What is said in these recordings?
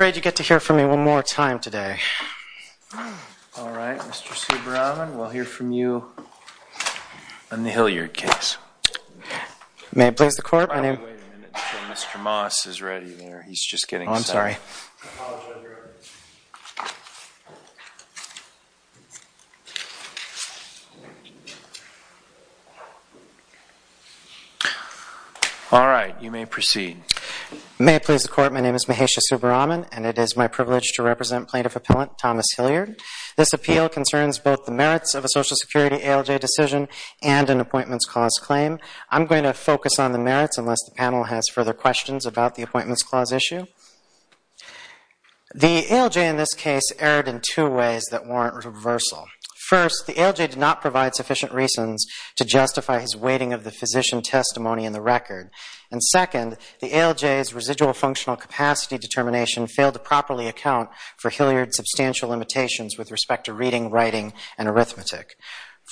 I'm afraid you get to hear from me one more time today. All right, Mr. Subbaraman, we'll hear from you on the Hilliard case. May it please the Court, my name is... Wait a minute until Mr. Moss is ready there. He's just getting set up. Oh, I'm sorry. I apologize, Your Honor. All right, you may proceed. May it please the Court, my name is Mahesha Subbaraman, and it is my privilege to represent Plaintiff Appellant Thomas Hilliard. This appeal concerns both the merits of a Social Security ALJ decision and an Appointments Clause claim. I'm going to focus on the merits unless the panel has further questions about the Appointments Clause issue. The ALJ in this case erred in two ways that warrant reversal. First, the ALJ did not provide sufficient reasons to justify his weighting of the physician testimony in the record. And second, the ALJ's residual functional capacity determination failed to properly account for Hilliard's substantial limitations with respect to reading, writing, and arithmetic.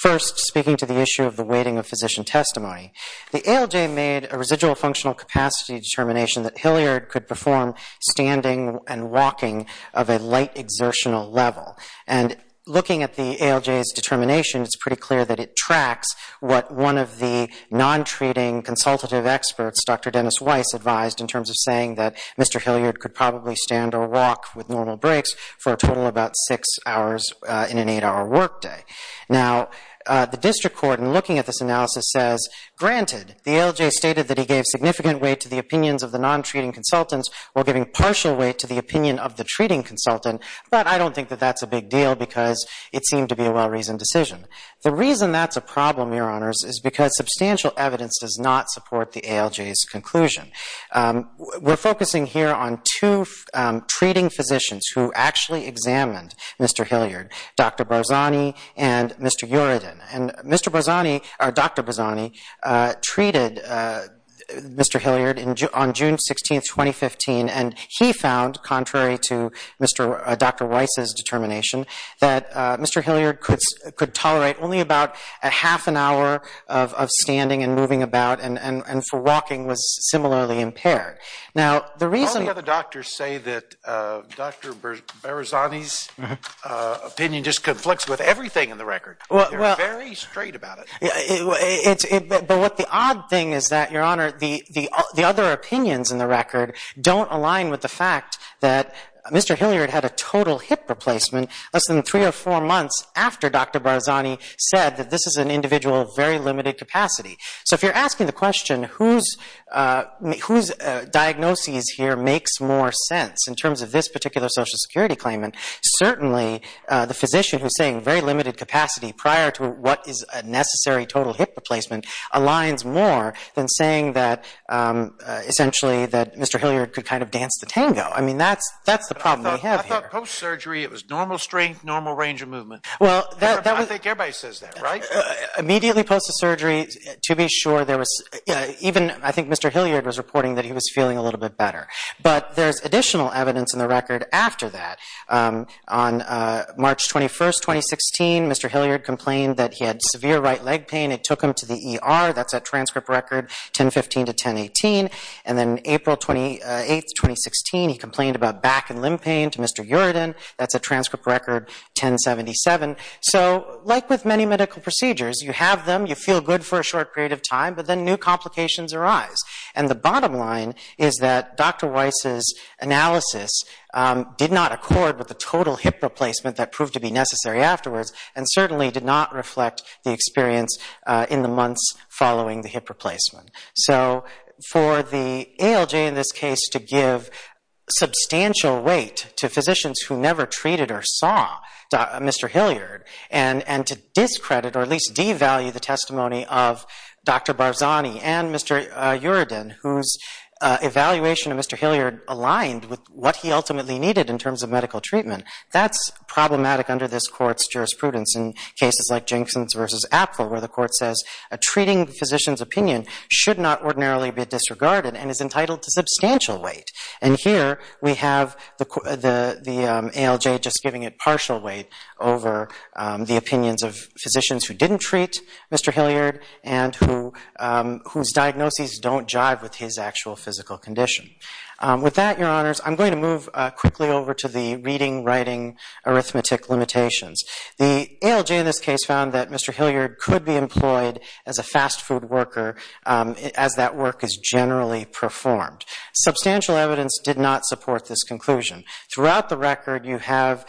First, speaking to the issue of the weighting of physician testimony, the ALJ made a residual functional capacity determination that Hilliard could perform standing and walking of a light exertional level. And looking at the ALJ's determination, it's pretty clear that it tracks what one of the non-treating consultative experts, Dr. Dennis Weiss, advised in terms of saying that Mr. Hilliard could probably stand or walk with normal breaks for a total of about six hours in an eight-hour workday. Now, the district court, in looking at this analysis, says, granted, the ALJ stated that he gave significant weight to the opinions of the non-treating consultants while giving partial weight to the opinion of the treating consultant, but I don't think that that's a big deal because it seemed to be a well-reasoned decision. The reason that's a problem, Your Honors, is because substantial evidence does not support the ALJ's conclusion. We're focusing here on two treating physicians who actually examined Mr. Hilliard, Dr. Barzani and Mr. Uredin. And Dr. Barzani treated Mr. Hilliard on June 16, 2015, and he found, contrary to Dr. Weiss's determination, that Mr. Hilliard could tolerate only about a half an hour of standing and moving about and for walking was similarly impaired. All the other doctors say that Dr. Barzani's opinion just conflicts with everything in the record. They're very straight about it. But the odd thing is that, Your Honor, the other opinions in the record don't align with the fact that Mr. Hilliard had a total hip replacement less than three or four months after Dr. Barzani said that this is an individual of very limited capacity. So if you're asking the question, whose diagnosis here makes more sense in terms of this particular Social Security claimant, certainly the physician who's saying very limited capacity prior to what is a necessary total hip replacement aligns more than saying that, essentially, that Mr. Hilliard could kind of dance the tango. I mean, that's the problem we have here. I thought post-surgery it was normal strength, normal range of movement. I think everybody says that, right? Immediately post-surgery, to be sure, there was even, I think Mr. Hilliard was reporting that he was feeling a little bit better. But there's additional evidence in the record after that. On March 21, 2016, Mr. Hilliard complained that he had severe right leg pain. It took him to the ER. That's a transcript record, 10-15 to 10-18. And then April 28, 2016, he complained about back and limb pain to Mr. Uredin. That's a transcript record, 10-77. So like with many medical procedures, you have them, you feel good for a short period of time, but then new complications arise. And the bottom line is that Dr. Weiss's analysis did not accord with the total hip replacement that proved to be necessary afterwards and certainly did not reflect the experience in the months following the hip replacement. So for the ALJ in this case to give substantial weight to physicians who never treated or saw Mr. Hilliard and to discredit or at least devalue the testimony of Dr. Barzani and Mr. Uredin, whose evaluation of Mr. Hilliard aligned with what he ultimately needed in terms of medical treatment, that's problematic under this Court's jurisprudence in cases like Jenksons v. Apfel, where the Court says a treating physician's opinion should not ordinarily be disregarded and is entitled to substantial weight. And here we have the ALJ just giving it partial weight over the opinions of physicians who didn't treat Mr. Hilliard and whose diagnoses don't jive with his actual physical condition. With that, Your Honors, I'm going to move quickly over to the reading-writing arithmetic limitations. The ALJ in this case found that Mr. Hilliard could be employed as a fast food worker as that work is generally performed. Substantial evidence did not support this conclusion. Throughout the record, you have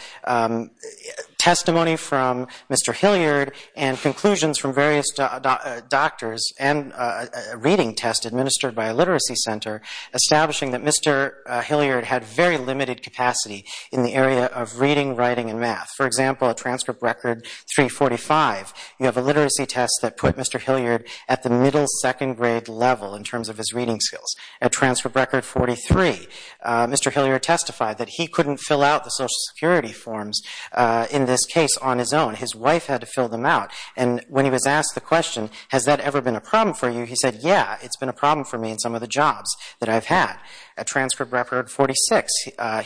testimony from Mr. Hilliard and conclusions from various doctors and a reading test administered by a literacy center establishing that Mr. Hilliard had very limited capacity in the area of reading, writing, and math. For example, at transcript record 345, you have a literacy test that put Mr. Hilliard at the middle second grade level in terms of his reading skills. At transcript record 43, Mr. Hilliard testified that he couldn't fill out the Social Security forms in this case on his own. His wife had to fill them out. And when he was asked the question, has that ever been a problem for you, he said, yeah, it's been a problem for me in some of the jobs that I've had. At transcript record 46,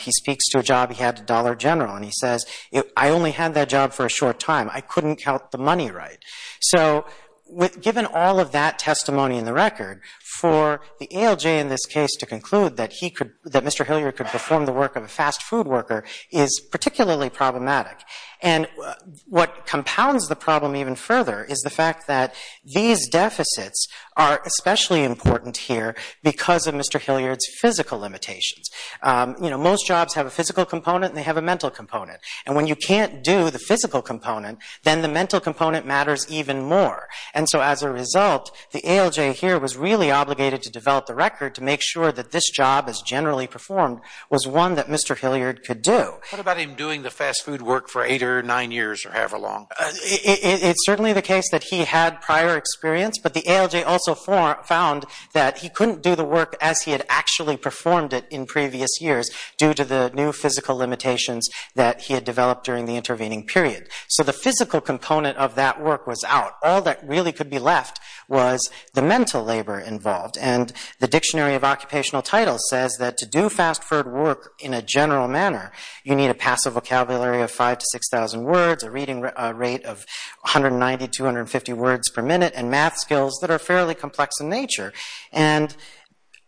he speaks to a job he had at Dollar General, and he says, I only had that job for a short time. I couldn't count the money right. So given all of that testimony in the record, for the ALJ in this case to conclude that Mr. Hilliard could perform the work of a fast food worker is particularly problematic. And what compounds the problem even further is the fact that these deficits are especially important here because of Mr. Hilliard's physical limitations. You know, most jobs have a physical component, and they have a mental component. And when you can't do the physical component, then the mental component matters even more. And so as a result, the ALJ here was really obligated to develop the record to make sure that this job as generally performed was one that Mr. Hilliard could do. What about him doing the fast food work for eight or nine years or however long? It's certainly the case that he had prior experience, but the ALJ also found that he couldn't do the work as he had actually performed it in previous years due to the new physical limitations that he had developed during the intervening period. So the physical component of that work was out. All that really could be left was the mental labor involved. And the Dictionary of Occupational Titles says that to do fast food work in a general manner, you need a passive vocabulary of 5,000 to 6,000 words, a reading rate of 190 to 250 words per minute, and math skills that are fairly complex in nature. And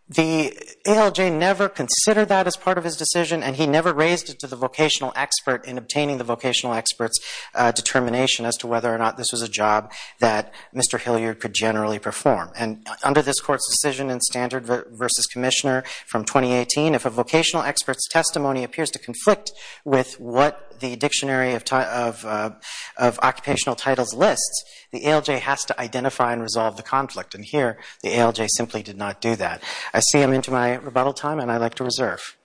the ALJ never considered that as part of his decision, and he never raised it to the vocational expert in obtaining the vocational expert's determination as to whether or not this was a job that Mr. Hilliard could generally perform. And under this Court's decision in Standard v. Commissioner from 2018, if a vocational expert's testimony appears to conflict with what the Dictionary of Occupational Titles lists, the ALJ has to identify and resolve the conflict. And here, the ALJ simply did not do that. I see I'm into my rebuttal time, and I'd like to reserve.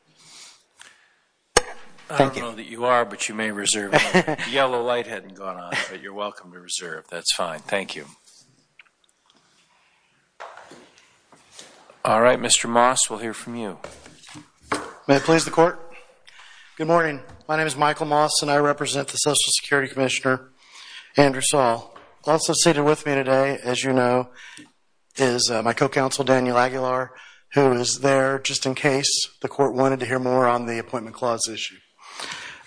I don't know that you are, but you may reserve. The yellow light hadn't gone on, but you're welcome to reserve. That's fine. Thank you. All right, Mr. Moss, we'll hear from you. May it please the Court? Good morning. My name is Michael Moss, and I represent the Social Security Commissioner, Andrew Saul. Also seated with me today, as you know, is my co-counsel, Daniel Aguilar, who is there just in case the Court wanted to hear more on the Appointment Clause issue.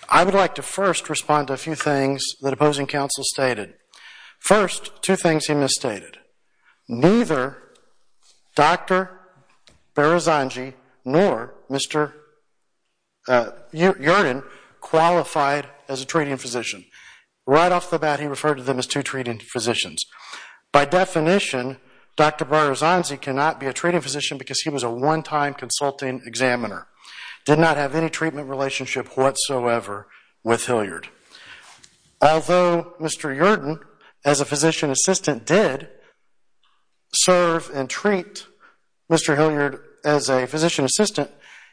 I would like to first respond to a few things that opposing counsel stated. First, two things he misstated. Neither Dr. Barazanzi nor Mr. Yurden qualified as a treating physician. Right off the bat, he referred to them as two treating physicians. By definition, Dr. Barazanzi cannot be a treating physician because he was a one-time consulting examiner, did not have any treatment relationship whatsoever with Hilliard. Although Mr. Yurden, as a physician assistant, did serve and treat Mr. Hilliard as a physician assistant,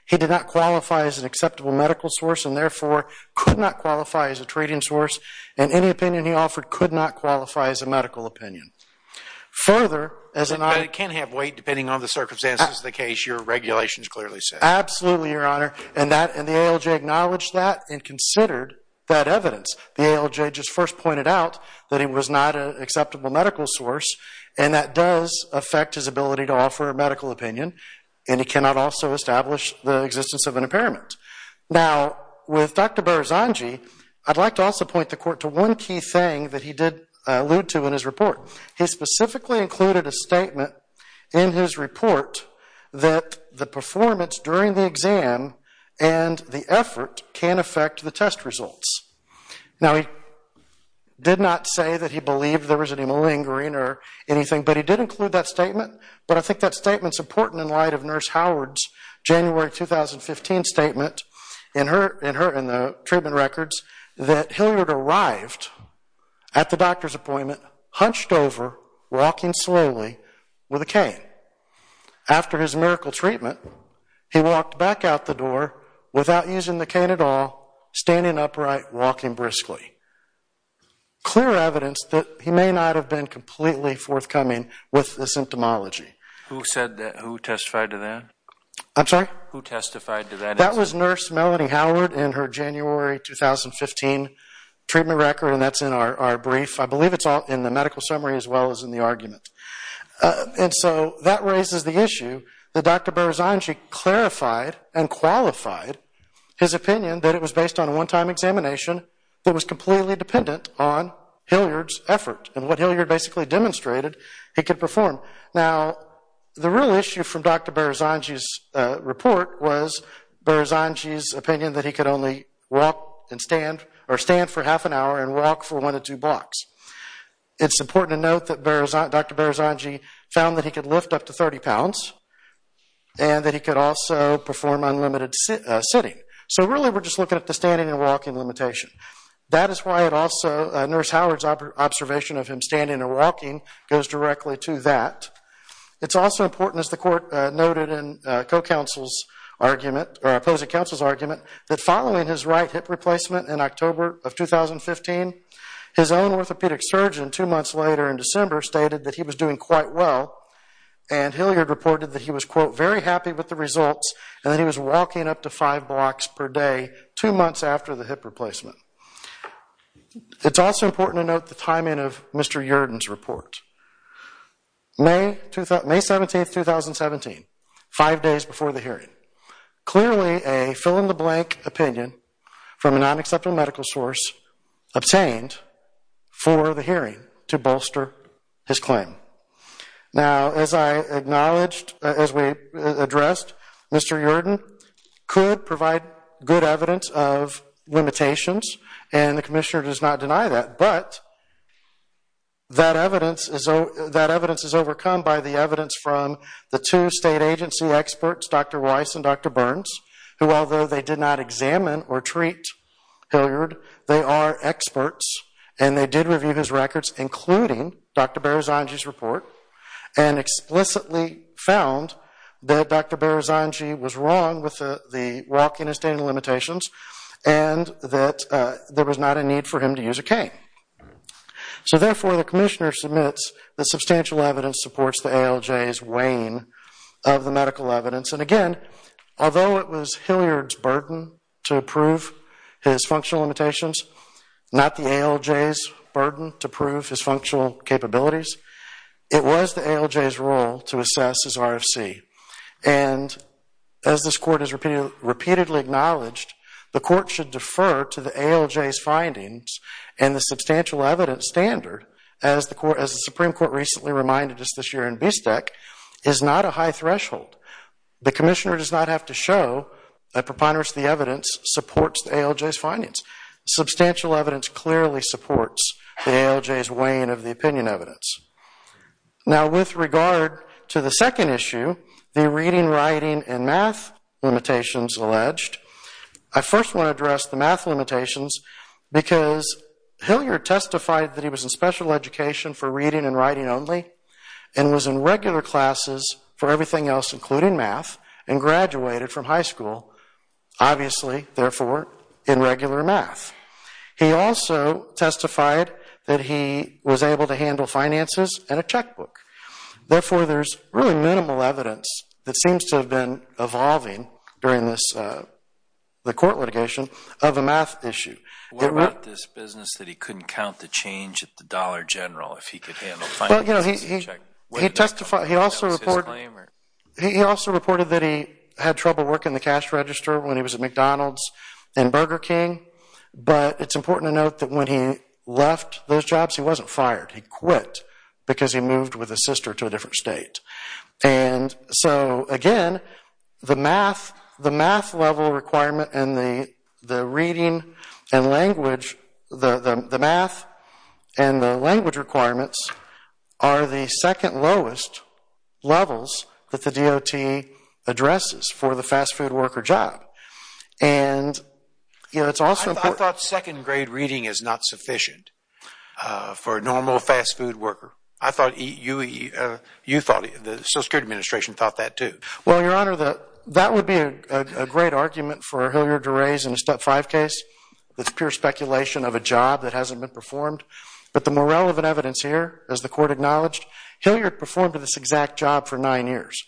he did not qualify as an acceptable medical source and therefore could not qualify as a treating source, and any opinion he offered could not qualify as a medical opinion. Further, as an— But it can have weight depending on the circumstances of the case. Your regulations clearly say that. Absolutely, Your Honor. And the ALJ acknowledged that and considered that evidence. The ALJ just first pointed out that he was not an acceptable medical source, and that does affect his ability to offer a medical opinion, and he cannot also establish the existence of an impairment. Now, with Dr. Barazanzi, I'd like to also point the Court to one key thing that he did allude to in his report. He specifically included a statement in his report that the performance during the exam and the effort can affect the test results. Now, he did not say that he believed there was any malingering or anything, but he did include that statement, but I think that statement's important in light of Nurse Howard's January 2015 statement in her— in the treatment records that Hilliard arrived at the doctor's appointment, hunched over, walking slowly with a cane. After his miracle treatment, he walked back out the door without using the cane at all, standing upright, walking briskly. Clear evidence that he may not have been completely forthcoming with the symptomology. Who said that? Who testified to that? I'm sorry? Who testified to that? That was Nurse Melanie Howard in her January 2015 treatment record, and that's in our brief. I believe it's in the medical summary as well as in the argument. And so that raises the issue that Dr. Berzangi clarified and qualified his opinion that it was based on a one-time examination that was completely dependent on Hilliard's effort and what Hilliard basically demonstrated he could perform. Now, the real issue from Dr. Berzangi's report was Berzangi's opinion that he could only walk and stand or stand for half an hour and walk for one to two blocks. It's important to note that Dr. Berzangi found that he could lift up to 30 pounds and that he could also perform unlimited sitting. So really we're just looking at the standing and walking limitation. That is why Nurse Howard's observation of him standing and walking goes directly to that. It's also important, as the court noted in the opposing counsel's argument, that following his right hip replacement in October of 2015, his own orthopedic surgeon two months later in December stated that he was doing quite well and Hilliard reported that he was, quote, very happy with the results and that he was walking up to five blocks per day two months after the hip replacement. It's also important to note the timing of Mr. Yerden's report. May 17, 2017, five days before the hearing. Clearly a fill-in-the-blank opinion from a non-acceptable medical source obtained for the hearing to bolster his claim. Now, as I acknowledged, as we addressed, Mr. Yerden could provide good evidence of limitations and the commissioner does not deny that, but that evidence is overcome by the evidence from the two state agency experts, Dr. Weiss and Dr. Burns, who, although they did not examine or treat Hilliard, they are experts and they did review his records, including Dr. Barazangi's report, and explicitly found that Dr. Barazangi was wrong with the walking and standing limitations and that there was not a need for him to use a cane. So, therefore, the commissioner submits that substantial evidence supports the ALJ's weighing of the medical evidence and, again, although it was Hilliard's burden to prove his functional limitations, not the ALJ's burden to prove his functional capabilities, it was the ALJ's role to assess his RFC. And as this court has repeatedly acknowledged, the court should defer to the ALJ's findings and the substantial evidence standard, as the Supreme Court recently reminded us this year in BSTEC, is not a high threshold. The commissioner does not have to show that preponderance of the evidence supports the ALJ's findings. Substantial evidence clearly supports the ALJ's weighing of the opinion evidence. Now, with regard to the second issue, the reading, writing, and math limitations alleged, I first want to address the math limitations because Hilliard testified that he was in special education for reading and writing only and was in regular classes for everything else, including math, and graduated from high school, obviously, therefore, in regular math. He also testified that he was able to handle finances and a checkbook. Therefore, there's really minimal evidence that seems to have been evolving during the court litigation of a math issue. What about this business that he couldn't count the change at the Dollar General if he could handle finances and a checkbook? He also reported that he had trouble working the cash register when he was at McDonald's and Burger King. But it's important to note that when he left those jobs, he wasn't fired. He quit because he moved with his sister to a different state. And so, again, the math level requirement and the reading and language, the math and the language requirements, are the second lowest levels that the DOT addresses for the fast food worker job. I thought second grade reading is not sufficient for a normal fast food worker. I thought you thought the Social Security Administration thought that, too. Well, Your Honor, that would be a great argument for Hilliard to raise in a Step 5 case. It's pure speculation of a job that hasn't been performed. But the more relevant evidence here, as the court acknowledged, Hilliard performed this exact job for nine years,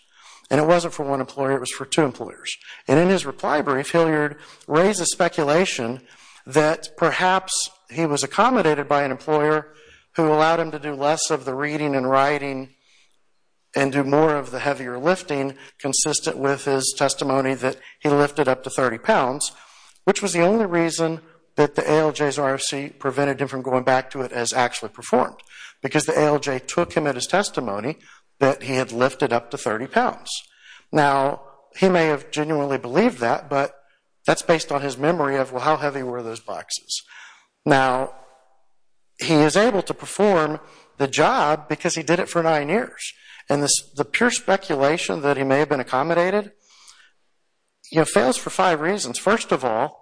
and it wasn't for one employer, it was for two employers. And in his reply brief, Hilliard raises speculation that perhaps he was accommodated by an employer who allowed him to do less of the reading and writing and do more of the heavier lifting, consistent with his testimony that he lifted up to 30 pounds, which was the only reason that the ALJ's RFC prevented him from going back to it as actually performed, because the ALJ took him at his testimony that he had lifted up to 30 pounds. Now, he may have genuinely believed that, but that's based on his memory of, well, how heavy were those boxes? Now, he is able to perform the job because he did it for nine years. And the pure speculation that he may have been accommodated, you know, fails for five reasons. First of all,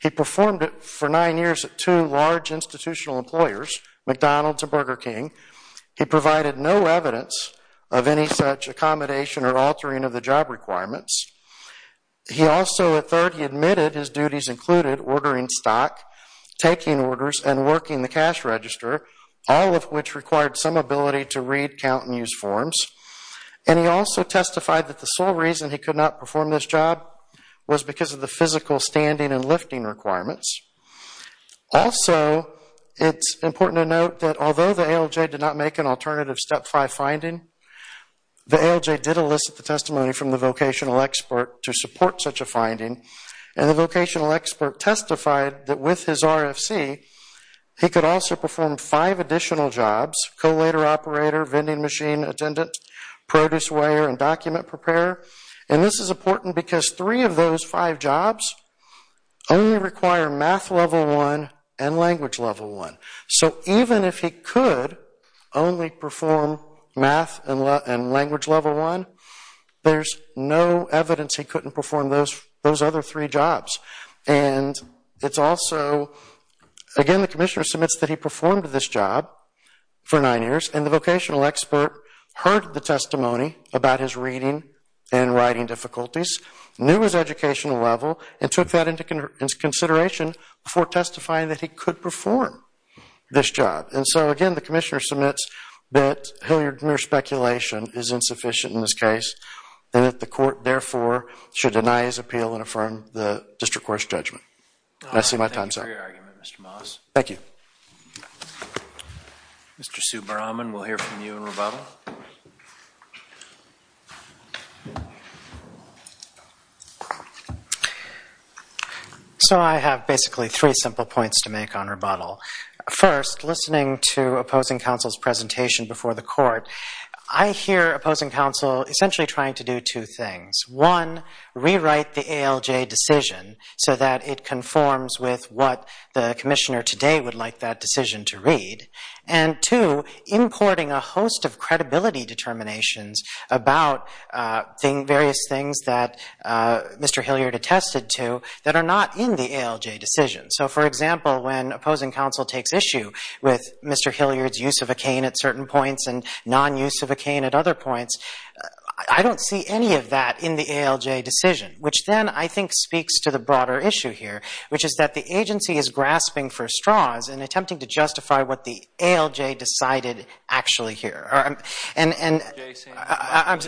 he performed it for nine years at two large institutional employers, McDonald's and Burger King. He provided no evidence of any such accommodation or altering of the job requirements. He also, at third, he admitted his duties included ordering stock, taking orders, and working the cash register, all of which required some ability to read, count, and use forms. And he also testified that the sole reason he could not perform this job was because of the physical standing and lifting requirements. Also, it's important to note that although the ALJ did not make an alternative Step 5 finding, the ALJ did elicit the testimony from the vocational expert to support such a finding. And the vocational expert testified that with his RFC, he could also perform five additional jobs, collator, operator, vending machine attendant, produce weigher, and document preparer. And this is important because three of those five jobs only require math level one and language level one. So even if he could only perform math and language level one, there's no evidence he couldn't perform those other three jobs. And it's also, again, the commissioner submits that he performed this job for nine years, and the vocational expert heard the testimony about his reading and writing difficulties, knew his educational level, and took that into consideration before testifying that he could perform this job. And so, again, the commissioner submits that Hilliard's mere speculation is insufficient in this case and that the court, therefore, should deny his appeal and affirm the district court's judgment. And I see my time's up. Thank you for your argument, Mr. Moss. Thank you. Mr. Subbaraman, we'll hear from you in rebuttal. So I have basically three simple points to make on rebuttal. First, listening to opposing counsel's presentation before the court, I hear opposing counsel essentially trying to do two things. One, rewrite the ALJ decision so that it conforms with what the commissioner today would like that decision to read, and two, importing a host of credibility determinations about various things that Mr. Hilliard attested to that are not in the ALJ decision. So, for example, when opposing counsel takes issue with Mr. Hilliard's use of a cane at certain points and non-use of a cane at other points, I don't see any of that in the ALJ decision, which then I think speaks to the broader issue here, which is that the agency is grasping for straws and attempting to justify what the ALJ decided actually here. Did the ALJ say anything about malingering?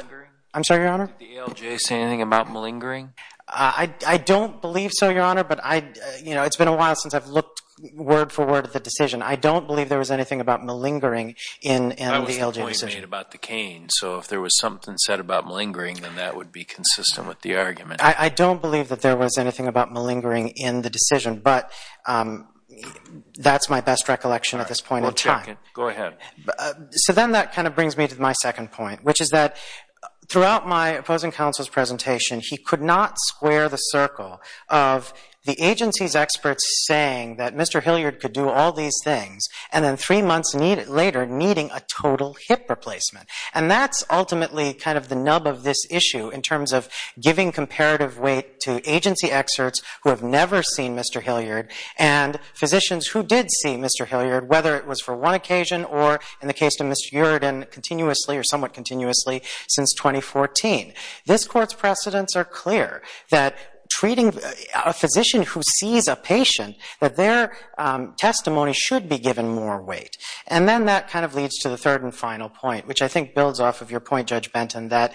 I'm sorry, Your Honor? Did the ALJ say anything about malingering? I don't believe so, Your Honor, but it's been a while since I've looked word for word at the decision. I don't believe there was anything about malingering in the ALJ decision. I was the point made about the cane, so if there was something said about malingering, then that would be consistent with the argument. I don't believe that there was anything about malingering in the decision, but that's my best recollection at this point in time. Go ahead. So then that kind of brings me to my second point, which is that throughout my opposing counsel's presentation, he could not square the circle of the agency's experts saying that Mr. Hilliard could do all these things and then three months later needing a total hip replacement, and that's ultimately kind of the nub of this issue in terms of giving comparative weight to agency experts who have never seen Mr. Hilliard and physicians who did see Mr. Hilliard, whether it was for one occasion or, in the case of Mr. Uredin, continuously or somewhat continuously since 2014. This Court's precedents are clear that treating a physician who sees a patient, that their testimony should be given more weight. And then that kind of leads to the third and final point, which I think builds off of your point, Judge Benton, that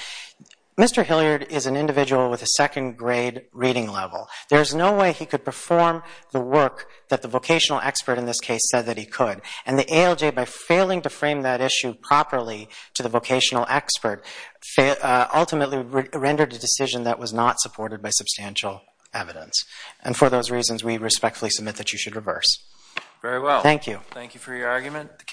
Mr. Hilliard is an individual with a second grade reading level. There's no way he could perform the work that the vocational expert in this case said that he could, and the ALJ, by failing to frame that issue properly to the vocational expert, ultimately rendered a decision that was not supported by substantial evidence. And for those reasons, we respectfully submit that you should reverse. Very well. Thank you. Thank you for your argument.